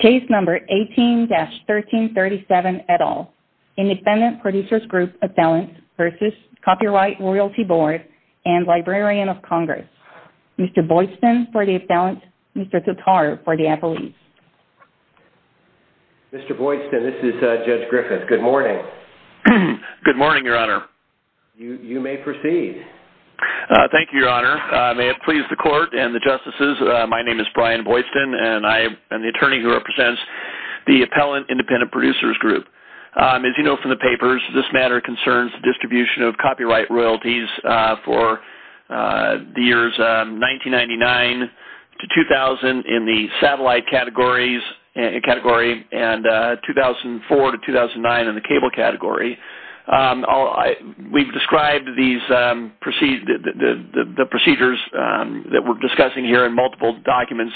Case No. 18-1337 et al. Independent Producers Group Appellant v. Copyright Royalty Board and Librarian of Congress. Mr. Boydston for the appellant, Mr. Tutar for the appellant. Mr. Boydston, this is Judge Griffith. Good morning. Good morning, Your Honor. You may proceed. Thank you, Your Honor. May it please the Court and the Justices, my name is Brian Boydston and I am the attorney who represents the Appellant Independent Producers Group. As you know from the papers, this matter concerns the distribution of copyright royalties for the years 1999-2000 in the satellite category and 2004-2009 in the cable category. We've described the procedures that we're discussing here in multiple documents,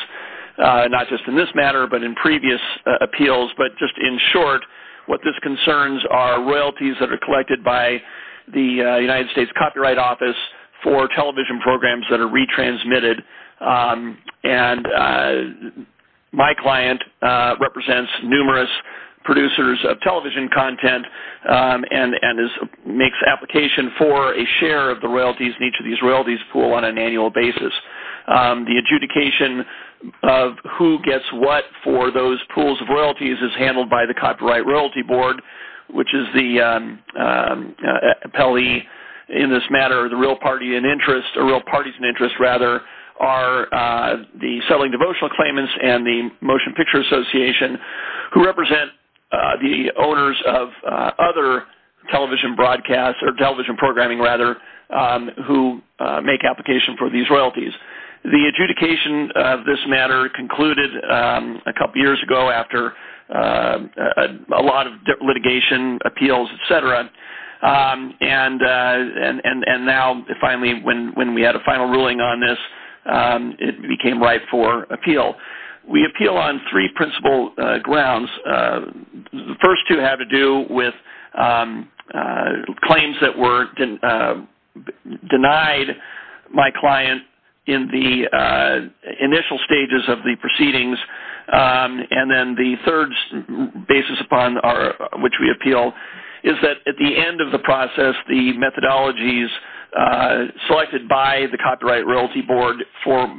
not just in this matter but in previous appeals. But just in short, what this concerns are royalties that are collected by the United States Copyright Office for television programs that are retransmitted. And my client represents numerous producers of television content and makes application for a share of the royalties in each of these royalties pools on an annual basis. The adjudication of who gets what for those pools of royalties is handled by the Copyright Royalty Board, which is the appellee in this matter. The real parties in interest are the Settling Devotional Claimants and the Motion Picture Association, who represent the owners of other television programming who make application for these royalties. The adjudication of this matter concluded a couple years ago after a lot of litigation, appeals, etc. And now, finally, when we had a final ruling on this, it became ripe for appeal. We appeal on three principal grounds. The first two have to do with claims that were denied my client in the initial stages of the proceedings. And then the third basis upon which we appeal is that at the end of the process, the methodologies selected by the Copyright Royalty Board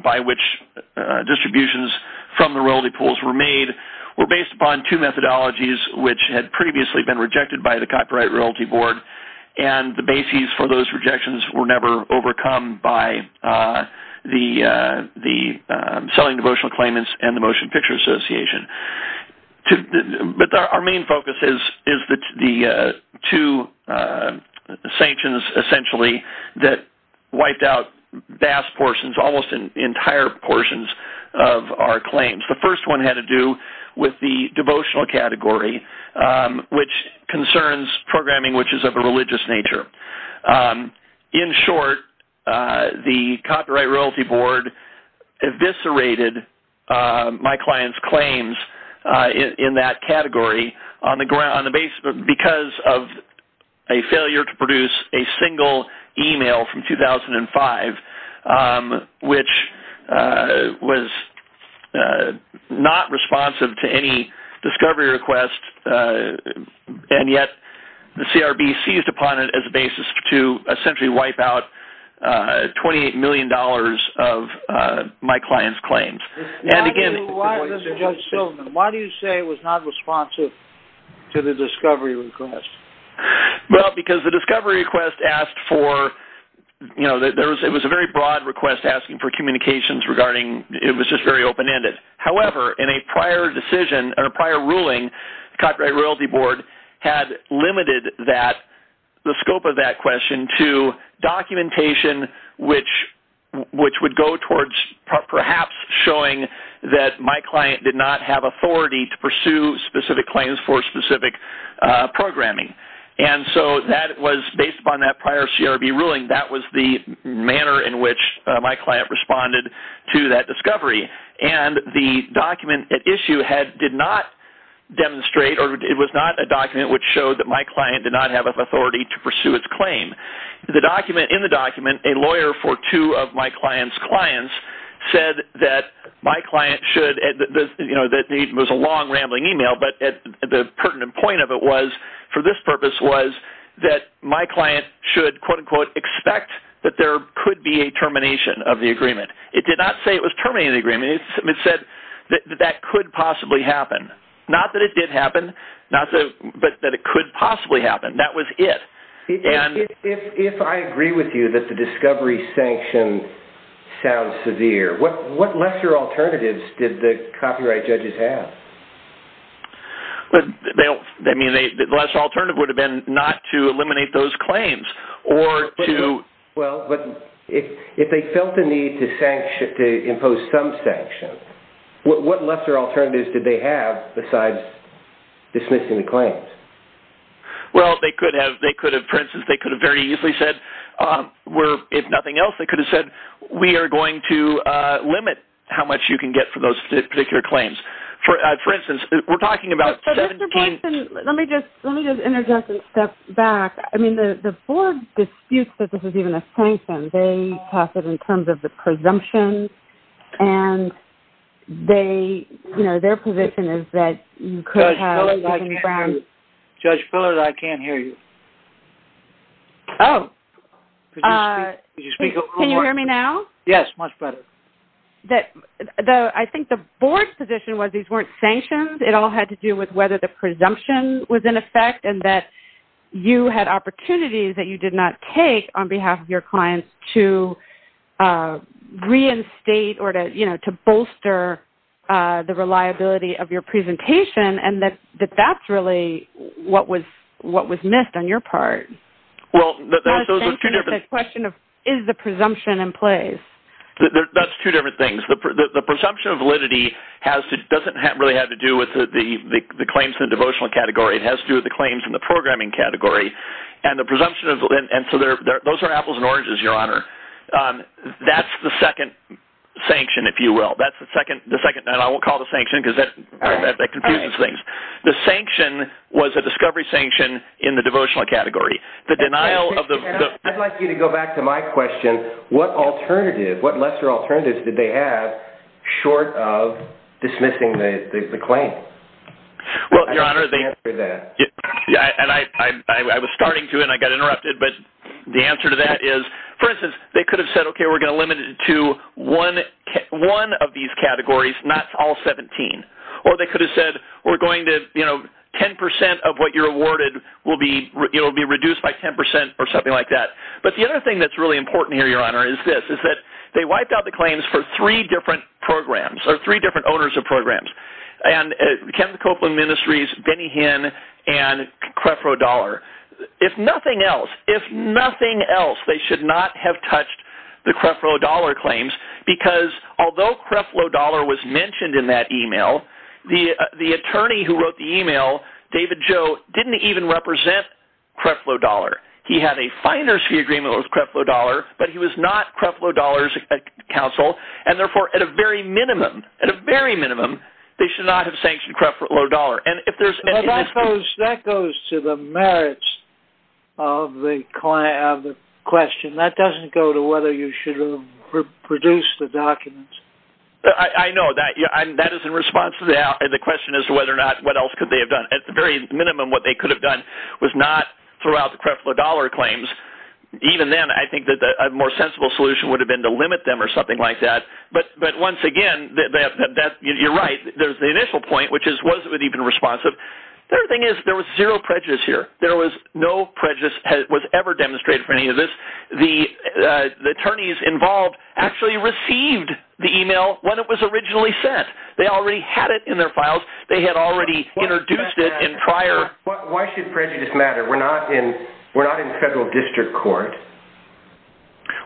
by which distributions from the royalty pools were made were based upon two methodologies which had previously been rejected by the Copyright Royalty Board. And the basis for those rejections were never overcome by the Selling Devotional Claimants and the Motion Picture Association. But our main focus is the two sanctions, essentially, that wiped out vast portions, almost entire portions, of our claims. The first one had to do with the devotional category, which concerns programming which is of a religious nature. In short, the Copyright Royalty Board eviscerated my client's claims in that category because of a failure to produce a single email from 2005, which was not responsive to any discovery request. And yet, the CRB seized upon it as a basis to essentially wipe out $28 million of my client's claims. Why do you say it was not responsive to the discovery request? Well, because the discovery request asked for, you know, it was a very broad request asking for communications regarding, it was just very open-ended. However, in a prior decision or prior ruling, the Copyright Royalty Board had limited the scope of that question to documentation which would go towards perhaps showing that my client did not have authority to pursue specific claims for specific programming. And so that was based upon that prior CRB ruling. That was the manner in which my client responded to that discovery. And the document at issue did not demonstrate, or it was not a document which showed that my client did not have authority to pursue its claim. In the document, a lawyer for two of my client's clients said that my client should, you know, that it was a long rambling email, but the pertinent point of it was, for this purpose, was that my client should quote-unquote expect that there could be a termination of the agreement. It did not say it was terminating the agreement. It said that that could possibly happen. Not that it did happen, but that it could possibly happen. That was it. If I agree with you that the discovery sanction sounds severe, what lesser alternatives did the copyright judges have? I mean, the lesser alternative would have been not to eliminate those claims or to... Well, but if they felt the need to impose some sanctions, what lesser alternatives did they have besides dismissing the claims? Well, they could have, for instance, they could have very easily said, if nothing else, they could have said, we are going to limit how much you can get for those particular claims. For instance, we're talking about... Jason, let me just interject and step back. I mean, the board disputes that this is even a sanction. They talk it in terms of the presumption, and they, you know, their position is that you could have... Judge Fillard, I can't hear you. Oh. Can you hear me now? Yes, much better. I think the board's position was these weren't sanctions. It all had to do with whether the presumption was in effect and that you had opportunities that you did not take on behalf of your clients to reinstate or to, you know, to bolster the reliability of your presentation, and that that's really what was missed on your part. Well, those were two different... Is the presumption in place? That's two different things. The presumption of validity doesn't really have to do with the claims in the devotional category. It has to do with the claims in the programming category. And the presumption of... And so those are apples and oranges, Your Honor. That's the second sanction, if you will. That's the second... And I won't call it a sanction because that confuses things. The sanction was a discovery sanction in the devotional category. I'd like you to go back to my question. What alternative, what lesser alternatives did they have short of dismissing the claim? Well, Your Honor, the answer to that, and I was starting to and I got interrupted, but the answer to that is, for instance, they could have said, okay, we're going to limit it to one of these categories, not all 17. Or they could have said, we're going to, you know, 10% of what you're awarded will be reduced by 10% or something like that. But the other thing that's really important here, Your Honor, is this, is that they wiped out the claims for three different programs, or three different owners of programs. And Kevin Copeland Ministries, Benny Hinn, and Crefro Dollar. If nothing else, if nothing else, they should not have touched the Crefro Dollar claims. Because although Crefro Dollar was mentioned in that email, the attorney who wrote the email, David Joe, didn't even represent Crefro Dollar. He had a financial agreement with Crefro Dollar, but he was not Crefro Dollar's counsel. And therefore, at a very minimum, at a very minimum, they should not have sanctioned Crefro Dollar. That goes to the merits of the question. That doesn't go to whether you should have produced the documents. I know. That is in response to the question as to whether or not, what else could they have done. At the very minimum, what they could have done was not throw out the Crefro Dollar claims. Even then, I think that a more sensible solution would have been to limit them or something like that. But once again, you're right. There's the initial point, which is, was it even responsive? The other thing is, there was zero prejudice here. There was no prejudice that was ever demonstrated for any of this. The attorneys involved actually received the email when it was originally sent. They already had it in their files. They had already introduced it in prior. Why should prejudice matter? We're not in federal district court.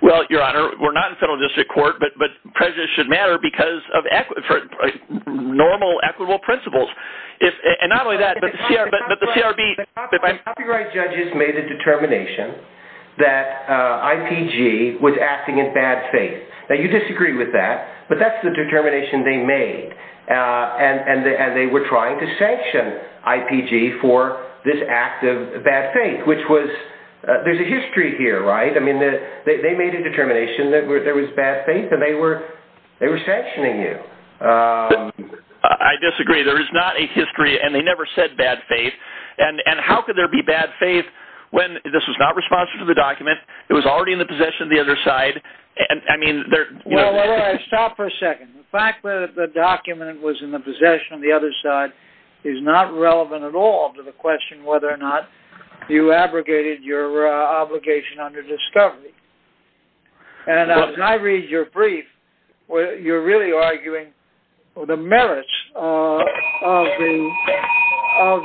Well, Your Honor, we're not in federal district court, but prejudice should matter because of normal, equitable principles. And not only that, but the CRB… The copyright judges made the determination that IPG was acting in bad faith. Now, you disagree with that, but that's the determination they made. And they were trying to sanction IPG for this act of bad faith, which was… There's a history here, right? I mean, they made a determination that there was bad faith, and they were sanctioning you. I disagree. There is not a history, and they never said bad faith. And how could there be bad faith when this was not responsive to the document? It was already in the possession of the other side. Stop for a second. The fact that the document was in the possession of the other side is not relevant at all to the question whether or not you abrogated your obligation under discovery. And as I read your brief, you're really arguing the merits of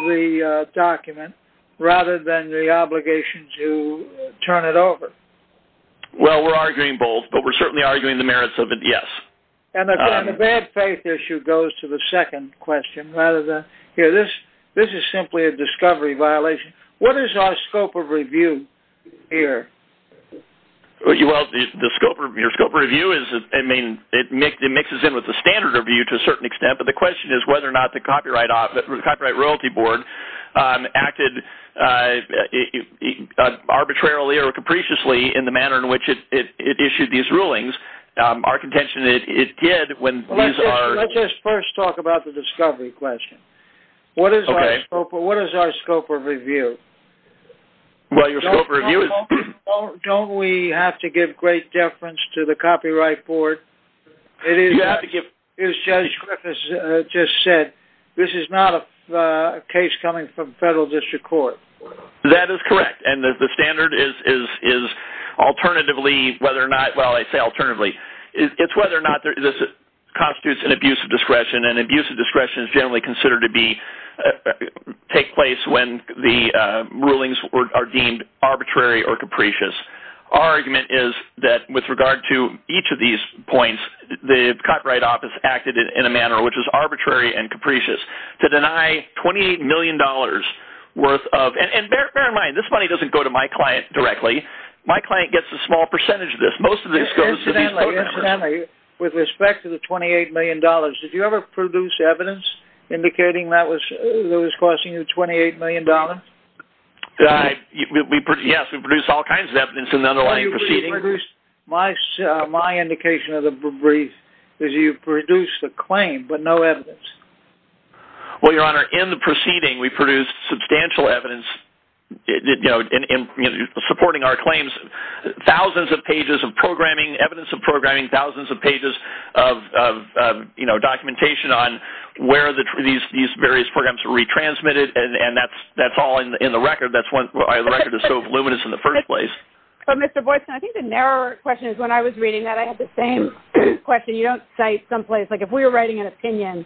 the document rather than the obligation to turn it over. Well, we're arguing both, but we're certainly arguing the merits of it, yes. And again, the bad faith issue goes to the second question, rather than… Here, this is simply a discovery violation. What is our scope of review here? Well, your scope of review is… I mean, it mixes in with the standard review to a certain extent, but the question is whether or not the Copyright Royalty Board acted arbitrarily or capriciously in the manner in which it issued these rulings. Our contention is it did when these are… Let's just first talk about the discovery question. What is our scope of review? Well, your scope of review is… Don't we have to give great deference to the Copyright Board? You have to give… As Judge Griffiths just said, this is not a case coming from Federal District Court. That is correct, and the standard is alternatively whether or not… Well, I say alternatively. It's whether or not this constitutes an abuse of discretion, and abuse of discretion is generally considered to take place when the rulings are deemed arbitrary or capricious. Our argument is that with regard to each of these points, the Copyright Office acted in a manner which is arbitrary and capricious to deny $28 million worth of… And bear in mind, this money doesn't go to my client directly. My client gets a small percentage of this. Most of this goes to these… Incidentally, with respect to the $28 million, did you ever produce evidence indicating that it was costing you $28 million? Yes, we produced all kinds of evidence in the underlying proceedings. My indication of the brief is you produced a claim, but no evidence. Well, Your Honor, in the proceeding, we produced substantial evidence supporting our claims, thousands of pages of programming, evidence of programming, thousands of pages of documentation on where these various programs were retransmitted, and that's all in the record. That's why the record is so voluminous in the first place. But Mr. Boykin, I think the narrower question is when I was reading that, I had the same question. You don't cite someplace. Like if we were writing an opinion,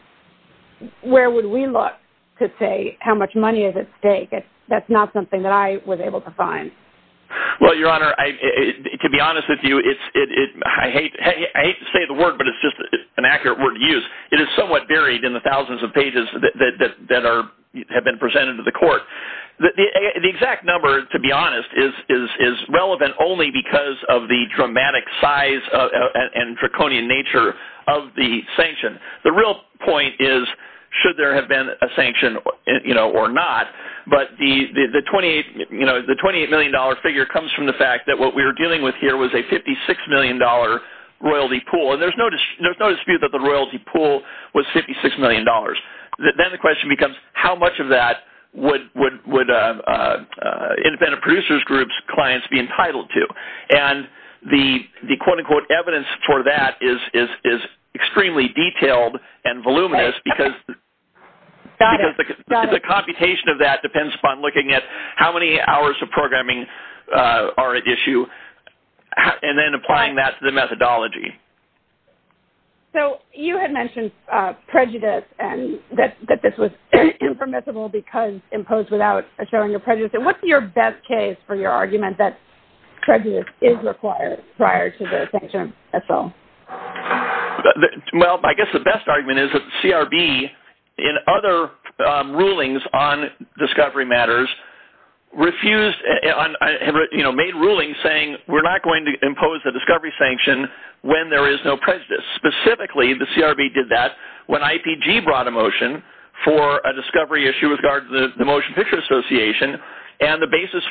where would we look to say how much money is at stake? That's not something that I was able to find. Well, Your Honor, to be honest with you, I hate to say the word, but it's just an accurate word to use. It is somewhat buried in the thousands of pages that have been presented to the court. The exact number, to be honest, is relevant only because of the dramatic size and draconian nature of the sanction. The real point is should there have been a sanction or not, but the $28 million figure comes from the fact that what we were dealing with here was a $56 million royalty pool, and there's no dispute that the royalty pool was $56 million. Then the question becomes how much of that would independent producers' groups' clients be entitled to? And the quote-unquote evidence for that is extremely detailed and voluminous because the computation of that depends upon looking at how many hours of programming are at issue and then applying that to the methodology. So you had mentioned prejudice and that this was impermissible because imposed without assuring a prejudice. What's your best case for your argument that prejudice is required prior to the sanction itself? Well, I guess the best argument is that CRB, in other rulings on discovery matters, made rulings saying we're not going to impose a discovery sanction when there is no prejudice. Specifically, the CRB did that when IPG brought a motion for a discovery issue with regard to the Motion Picture Association and the basis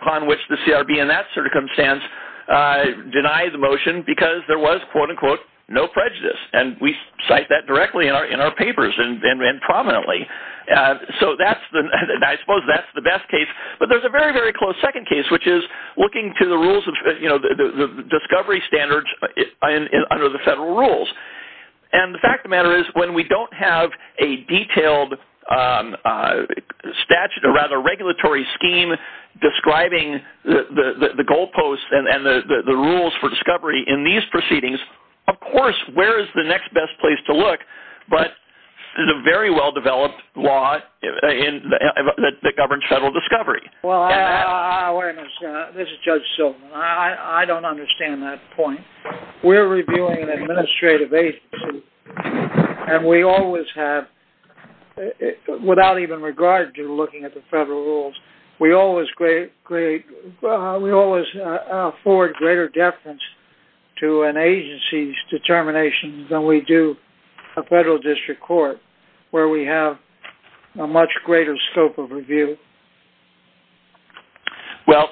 upon which the CRB in that circumstance denied the motion because there was, quote-unquote, no prejudice. And we cite that directly in our papers and prominently. So I suppose that's the best case. But there's a very, very close second case, which is looking to the rules of discovery standards under the federal rules. And the fact of the matter is when we don't have a detailed statute or rather regulatory scheme describing the goalposts and the rules for discovery in these proceedings, of course, where is the next best place to look? But there's a very well-developed law that governs federal discovery. Well, this is Judge Silverman. I don't understand that point. We're reviewing an administrative agency and we always have, without even regard to looking at the federal rules, we always afford greater deference to an agency's determination than we do a federal district court where we have a much greater scope of review. Well,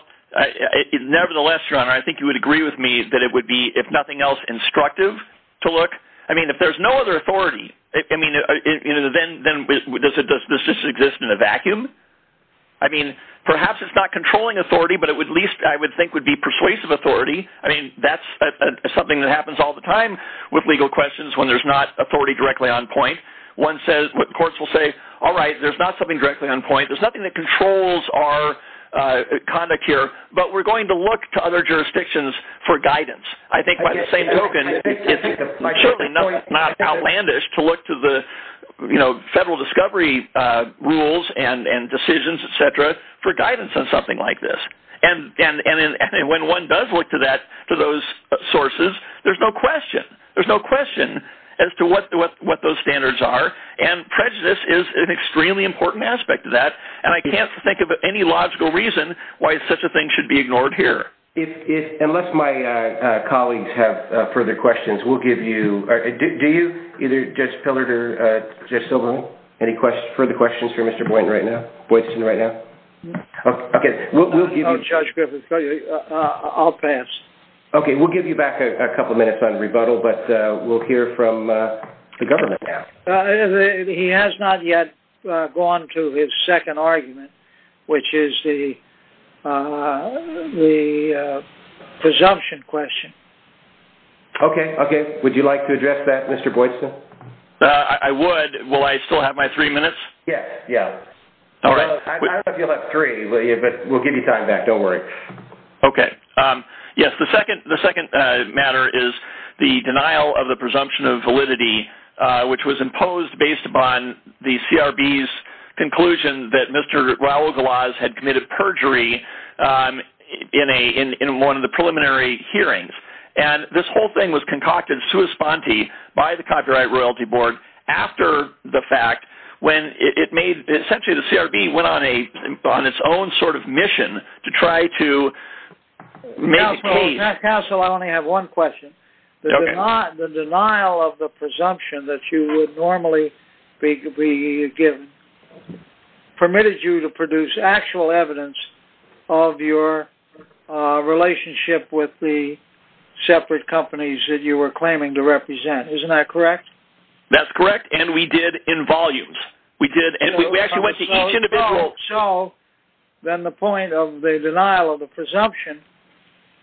nevertheless, Your Honor, I think you would agree with me that it would be, if nothing else, instructive to look. I mean, if there's no other authority, then does this exist in a vacuum? I mean, perhaps it's not controlling authority, but at least I would think it would be persuasive authority. I mean, that's something that happens all the time with legal questions when there's not authority directly on point. Courts will say, all right, there's not something directly on point. There's nothing that controls our conduct here. But we're going to look to other jurisdictions for guidance. I think by the same token, it's surely not outlandish to look to the federal discovery rules and decisions, etc., for guidance on something like this. And when one does look to those sources, there's no question as to what those standards are. And prejudice is an extremely important aspect of that. And I can't think of any logical reason why such a thing should be ignored here. Unless my colleagues have further questions, we'll give you – do you, either Judge Pillard or Judge Silberman, any further questions for Mr. Boynton right now? Boynton right now? Judge Griffith, I'll pass. Okay, we'll give you back a couple minutes on rebuttal, but we'll hear from the government now. He has not yet gone to his second argument, which is the presumption question. Okay, okay. Would you like to address that, Mr. Boynton? I would. Will I still have my three minutes? Yes. All right. I thought you left three. We'll give you time back. Don't worry. Okay. Yes, the second matter is the denial of the presumption of validity, which was imposed based upon the CRB's conclusion that Mr. Raul Galaz had committed perjury in one of the preliminary hearings. And this whole thing was concocted sui sponte by the Copyright Royalty Board after the fact when it made – essentially the CRB went on its own sort of mission to try to make a case. Counsel, I only have one question. The denial of the presumption that you would normally be given permitted you to produce actual evidence of your relationship with the separate companies that you were claiming to represent. Isn't that correct? That's correct, and we did in volumes. We actually went to each individual. Then the point of the denial of the presumption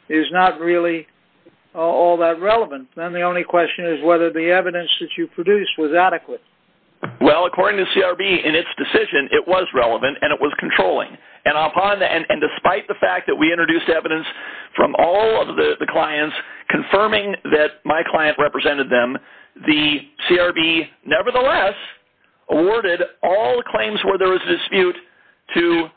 is not really all that relevant. Then the only question is whether the evidence that you produced was adequate. Well, according to the CRB in its decision, it was relevant, and it was controlling. And despite the fact that we introduced evidence from all of the clients confirming that my client represented them, the CRB nevertheless awarded all the claims where there was a dispute to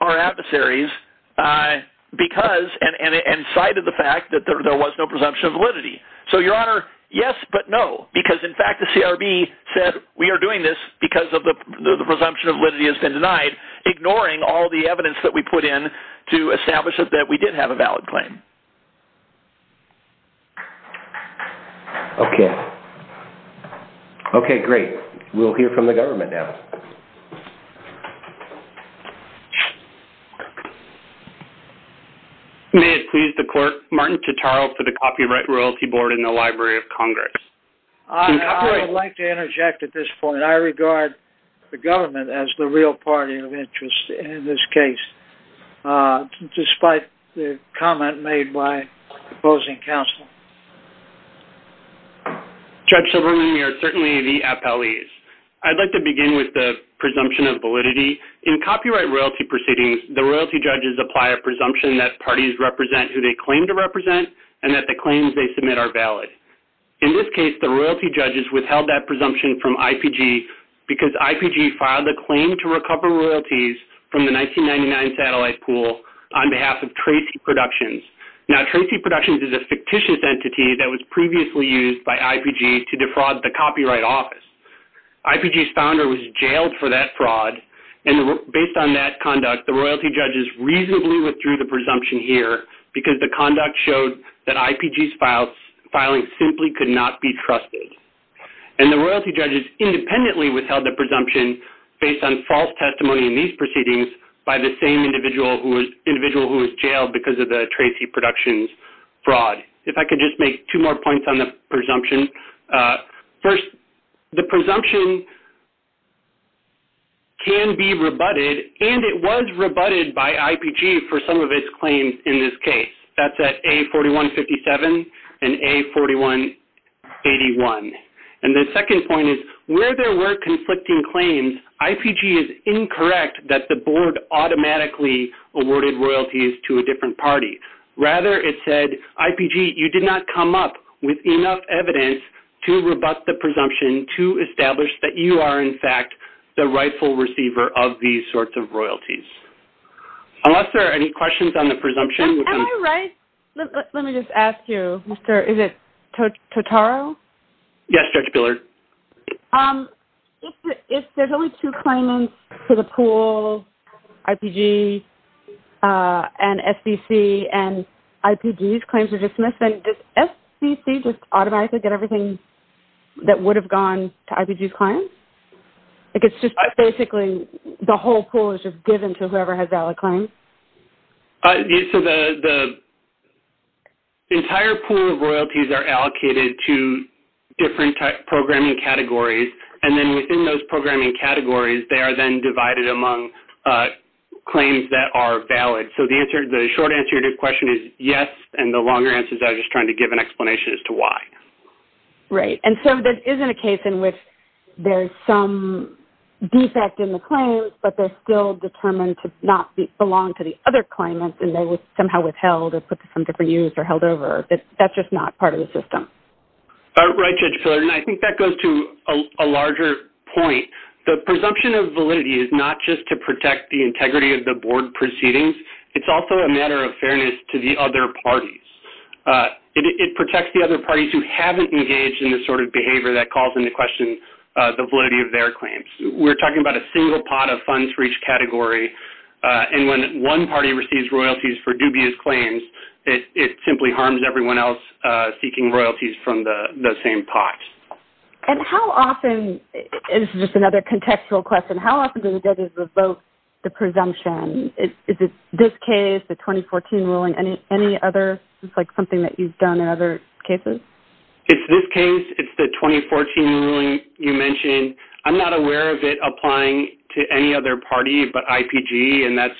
our adversaries because – and cited the fact that there was no presumption of validity. So, Your Honor, yes, but no, because in fact the CRB said we are doing this because the presumption of validity has been denied, ignoring all the evidence that we put in to establish that we did have a valid claim. Okay. Okay, great. We'll hear from the government now. May it please the Court, Martin Tuttaro for the Copyright Royalty Board in the Library of Congress. I would like to interject at this point. I regard the government as the real party of interest in this case, despite the comment made by opposing counsel. Judge Silberman, we are certainly the appellees. I'd like to begin with the presumption of validity. In copyright royalty proceedings, the royalty judges apply a presumption that parties represent who they claim to represent and that the claims they submit are valid. In this case, the royalty judges withheld that presumption from IPG because IPG filed a claim to recover royalties from the 1999 satellite pool on behalf of Tracy Productions. Now, Tracy Productions is a fictitious entity that was previously used by IPG to defraud the Copyright Office. IPG's founder was jailed for that fraud, and based on that conduct, the royalty judges reasonably withdrew the presumption here because the conduct showed that IPG's filing simply could not be trusted. And the royalty judges independently withheld the presumption based on false testimony in these proceedings by the same individual who was jailed because of the Tracy Productions fraud. If I could just make two more points on the presumption. First, the presumption can be rebutted, and it was rebutted by IPG for some of its claims in this case. That's at A4157 and A4181. And the second point is where there were conflicting claims, IPG is incorrect that the board automatically awarded royalties to a different party. Rather, it said, IPG, you did not come up with enough evidence to rebut the presumption to establish that you are, in fact, the rightful receiver of these sorts of royalties. Unless there are any questions on the presumption. Am I right? Let me just ask you, is it Totaro? Yes, Judge Billard. If there's only two claimants for the pool, IPG and SBC, and IPG's claims are dismissed, then does SBC just automatically get everything that would have gone to IPG's claims? Like, it's just basically the whole pool is just given to whoever has valid claims? So, the entire pool of royalties are allocated to different programming categories, and then within those programming categories, they are then divided among claims that are valid. So, the short answer to your question is yes, and the longer answer is I was just trying to give an explanation as to why. Right, and so there isn't a case in which there's some defect in the claims, but they're still determined to not belong to the other claimants, and they were somehow withheld or put to some different use or held over. That's just not part of the system. Right, Judge Billard, and I think that goes to a larger point. The presumption of validity is not just to protect the integrity of the board proceedings. It's also a matter of fairness to the other parties. It protects the other parties who haven't engaged in the sort of behavior that calls into question the validity of their claims. We're talking about a single pot of funds for each category, and when one party receives royalties for dubious claims, it simply harms everyone else seeking royalties from the same pot. And how often, and this is just another contextual question, how often do the judges revoke the presumption? Is it this case, the 2014 ruling, any other? It's like something that you've done in other cases? It's this case. It's the 2014 ruling you mentioned. I'm not aware of it applying to any other party but IPG, and that's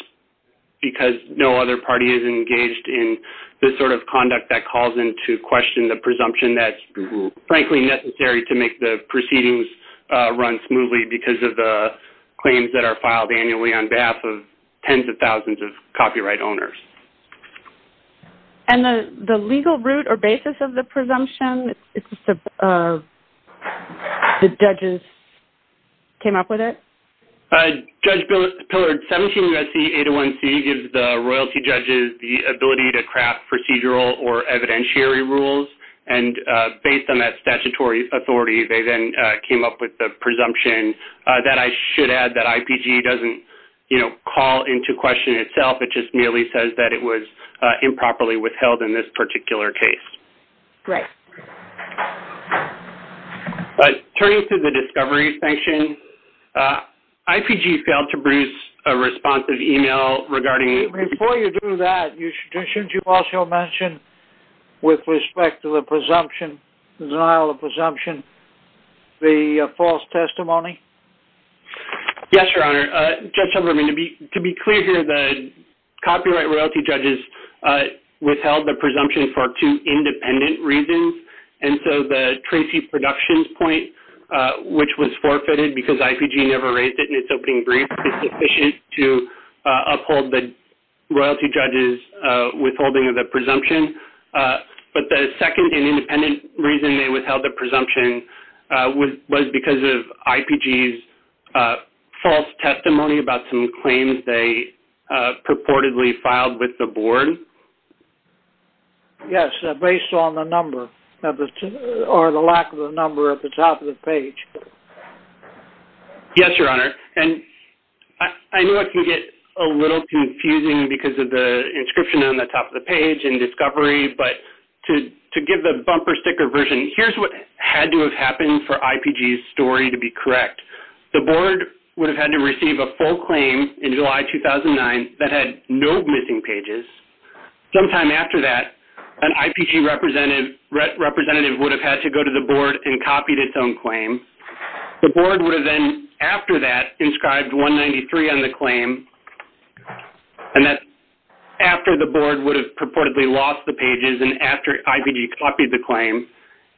because no other party is engaged in this sort of conduct that calls into question the presumption that's, frankly, necessary to make the proceedings run smoothly because of the claims that are filed annually on behalf of tens of thousands of copyright owners. And the legal root or basis of the presumption, the judges came up with it? Judge Pillard, 17 U.S.C. 801C gives the royalty judges the ability to craft procedural or evidentiary rules, and based on that statutory authority, they then came up with the presumption. That, I should add, that IPG doesn't call into question itself. It just merely says that it was improperly withheld in this particular case. Great. Turning to the discovery section, IPG failed to produce a responsive email regarding... Before you do that, shouldn't you also mention, with respect to the presumption, denial of presumption, the false testimony? Yes, Your Honor. Judge Silverman, to be clear here, the copyright royalty judges withheld the presumption for two independent reasons, and so the Tracy Productions point, which was forfeited because IPG never raised it in its opening brief, is sufficient to uphold the royalty judges' withholding of the presumption. But the second and independent reason they withheld the presumption was because of IPG's false testimony about some claims they purportedly filed with the board. Yes, based on the number or the lack of the number at the top of the page. Yes, Your Honor, and I know it can get a little confusing because of the inscription on the top of the page in discovery, but to give the bumper sticker version, here's what had to have happened for IPG's story to be correct. The board would have had to receive a full claim in July 2009 that had no missing pages. Sometime after that, an IPG representative would have had to go to the board and copied its own claim. The board would have then, after that, inscribed 193 on the claim, and that's after the board would have purportedly lost the pages and after IPG copied the claim.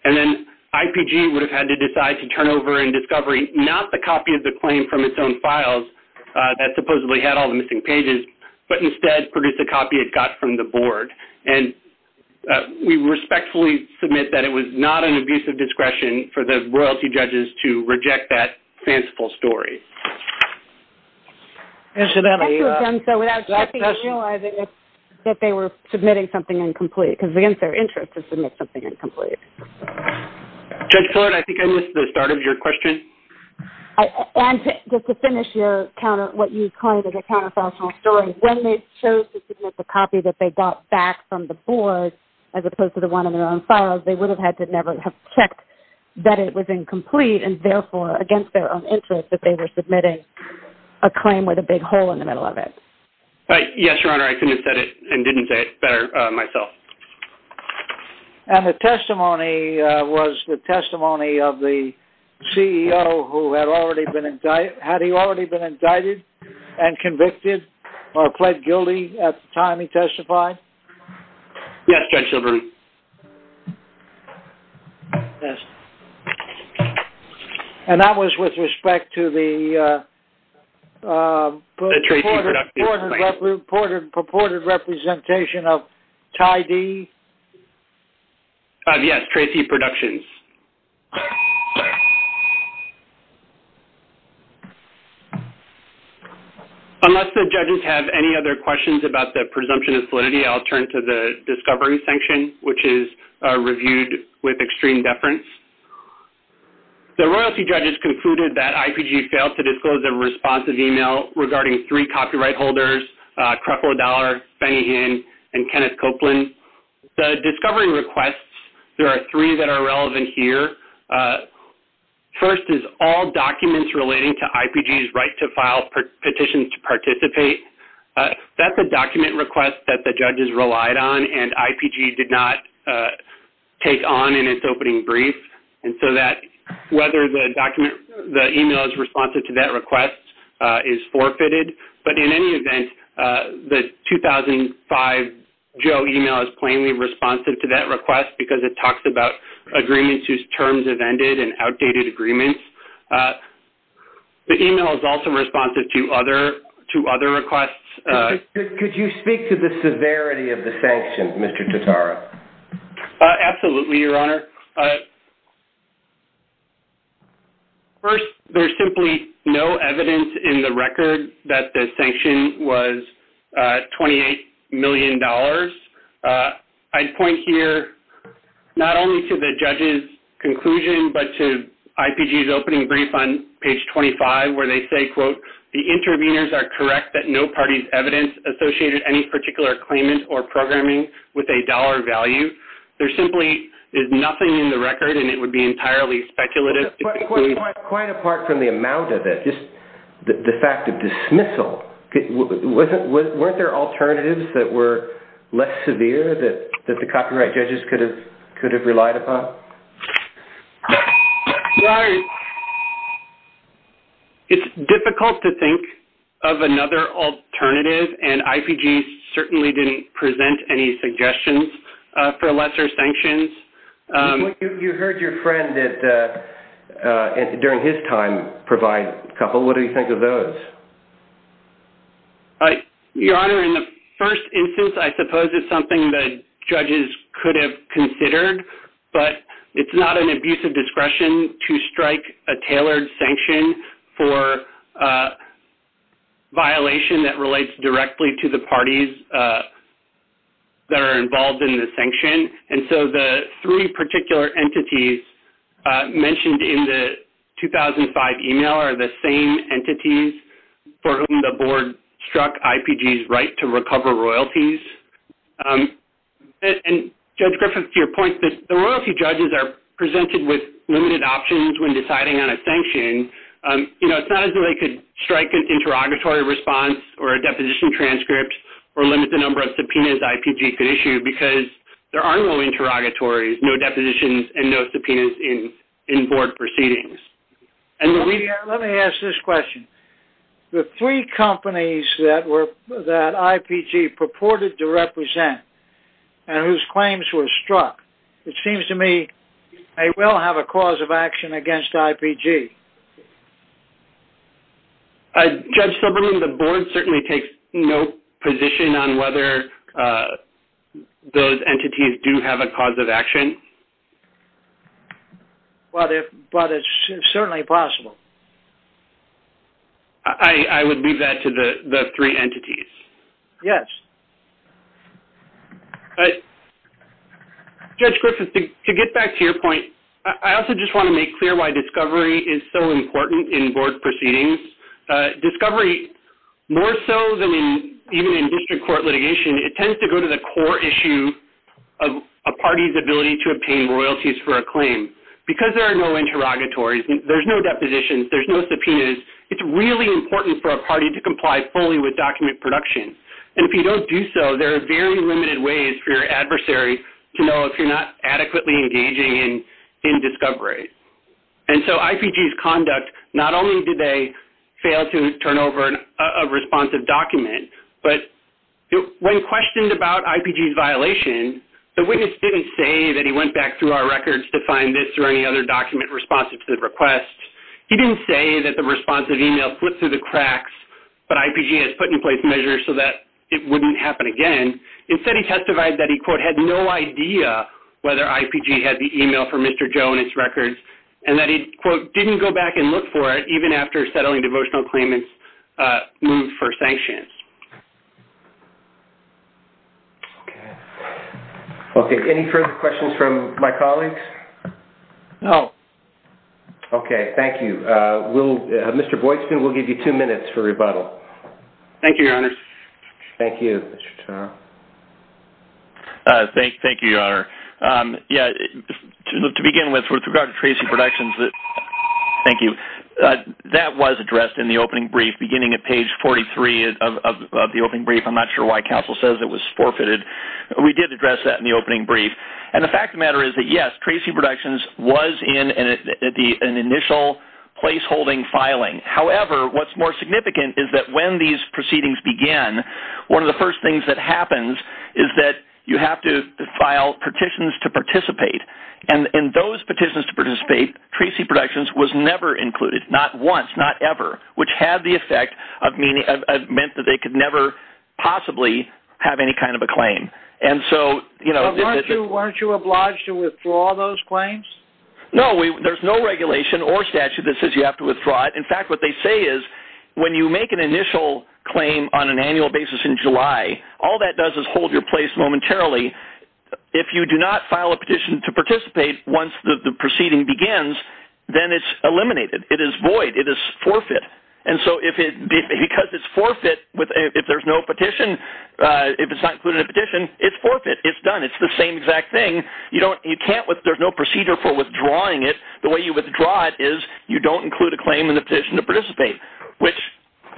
And then IPG would have had to decide to turn over in discovery, not the copy of the claim from its own files that supposedly had all the missing pages, but instead produce a copy it got from the board. And we respectfully submit that it was not an abuse of discretion for the royalty judges to reject that fanciful story. Incidentally... ...that they were submitting something incomplete, because it's against their interest to submit something incomplete. Judge Pillard, I think I missed the start of your question. And just to finish your counter, what you called a counterfactual story, when they chose to submit the copy that they got back from the board as opposed to the one in their own files, they would have had to never have checked that it was incomplete, and therefore against their own interest that they were submitting a claim with a big hole in the middle of it. Yes, Your Honor, I couldn't have said it and didn't say it better myself. And the testimony was the testimony of the CEO who had already been indicted, had he already been indicted and convicted or pled guilty at the time he testified? Yes, Judge Silverman. Yes. And that was with respect to the purported representation of Ty D? Yes, Tracy Productions. Unless the judges have any other questions about the presumption of validity, I'll turn to the discovery section, which is reviewed with extreme deference. The royalty judges concluded that IPG failed to disclose a responsive e-mail regarding three copyright holders, Creflo Dollar, Benny Hinn, and Kenneth Copeland. The discovery requests, there are three that are relevant here. First is all documents relating to IPG's right to file petitions to participate. That's a document request that the judges relied on, and IPG did not take on in its opening brief. And so whether the e-mail is responsive to that request is forfeited. But in any event, the 2005 Joe e-mail is plainly responsive to that request because it talks about agreements whose terms have ended and outdated agreements. The e-mail is also responsive to other requests. Could you speak to the severity of the sanction, Mr. Totara? Absolutely, Your Honor. First, there's simply no evidence in the record that the sanction was $28 million. I'd point here not only to the judges' conclusion, but to IPG's opening brief on page 25, where they say, quote, the interveners are correct that no party's evidence associated any particular claimant or programming with a dollar value. There simply is nothing in the record, and it would be entirely speculative. Quite apart from the amount of it, just the fact of dismissal. Weren't there alternatives that were less severe that the copyright judges could have relied upon? Right. It's difficult to think of another alternative, and IPG certainly didn't present any suggestions for lesser sanctions. You heard your friend during his time provide a couple. What do you think of those? Your Honor, in the first instance, I suppose it's something that judges could have considered, but it's not an abuse of discretion to strike a tailored sanction for a violation that relates directly to the parties that are involved in the sanction. The three particular entities mentioned in the 2005 email are the same entities for whom the board struck IPG's right to recover royalties. Judge Griffith, to your point, the royalty judges are presented with limited options when deciding on a sanction. It's not as though they could strike an interrogatory response or a deposition transcript or limit the number of subpoenas IPG could issue, because there are no interrogatories, no depositions, and no subpoenas in board proceedings. Let me ask this question. The three companies that IPG purported to represent and whose claims were struck, it seems to me, may well have a cause of action against IPG. Judge Silberman, the board certainly takes no position on whether those entities do have a cause of action. But it's certainly possible. I would leave that to the three entities. Yes. Judge Griffith, to get back to your point, I also just want to make clear why discovery is so important in board proceedings. Discovery, more so than even in district court litigation, it tends to go to the core issue of a party's ability to obtain royalties for a claim. Because there are no interrogatories, there's no depositions, there's no subpoenas, it's really important for a party to comply fully with document production. And if you don't do so, there are very limited ways for your adversary to know if you're not adequately engaging in discovery. And so IPG's conduct, not only did they fail to turn over a responsive document, but when questioned about IPG's violation, the witness didn't say that he went back through our records to find this or any other document responsive to the request. He didn't say that the responsive email slipped through the cracks, but IPG has put in place measures so that it wouldn't happen again. Instead, he testified that he, quote, had no idea whether IPG had the email from Mr. Joe in its records and that he, quote, didn't go back and look for it even after settling devotional claimants' move for sanctions. Okay. Okay, any further questions from my colleagues? No. Okay, thank you. Mr. Boykspoon, we'll give you two minutes for rebuttal. Thank you, Your Honors. Thank you, Mr. Turner. Thank you, Your Honor. To begin with, with regard to Tracy Productions, thank you, that was addressed in the opening brief beginning at page 43 of the opening brief. I'm not sure why counsel says it was forfeited, but we did address that in the opening brief. And the fact of the matter is that, yes, Tracy Productions was in an initial placeholding filing. However, what's more significant is that when these proceedings began, one of the first things that happens is that you have to file petitions to participate. And in those petitions to participate, Tracy Productions was never included, not once, not ever, which had the effect of meaning that they could never possibly have any kind of a claim. Weren't you obliged to withdraw those claims? No, there's no regulation or statute that says you have to withdraw it. In fact, what they say is when you make an initial claim on an annual basis in July, all that does is hold your place momentarily. If you do not file a petition to participate once the proceeding begins, then it's eliminated. It is void. It is forfeit. Because it's forfeit, if there's no petition, if it's not included in a petition, it's forfeit. It's done. It's the same exact thing. There's no procedure for withdrawing it. The way you withdraw it is you don't include a claim in the petition to participate, which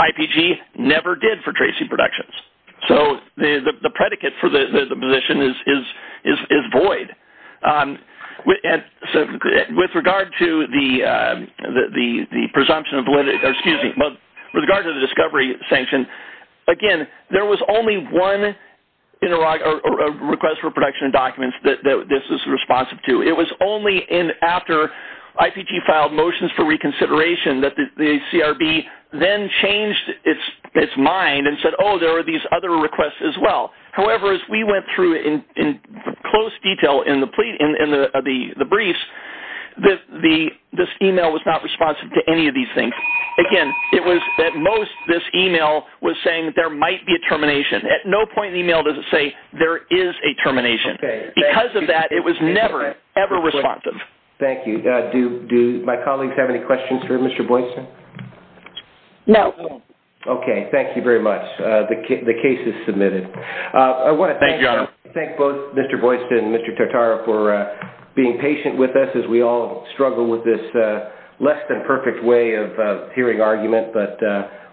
IPG never did for Tracy Productions. So the predicate for the position is void. So with regard to the presumption of validity, or excuse me, with regard to the discovery sanction, again, there was only one request for production of documents that this was responsive to. It was only after IPG filed motions for reconsideration that the CRB then changed its mind and said, oh, there are these other requests as well. However, as we went through in close detail in the briefs, this email was not responsive to any of these things. Again, it was that most of this email was saying there might be a termination. At no point in the email does it say there is a termination. Because of that, it was never, ever responsive. Thank you. Do my colleagues have any questions for Mr. Boyston? No. Okay. Thank you very much. The case is submitted. Thank you, Your Honor. I want to thank both Mr. Boyston and Mr. Tartara for being patient with us as we all struggle with this less than perfect way of hearing argument, but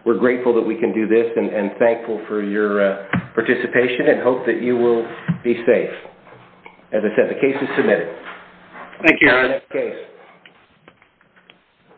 we're grateful that we can do this and thankful for your participation and hope that you will be safe. As I said, the case is submitted.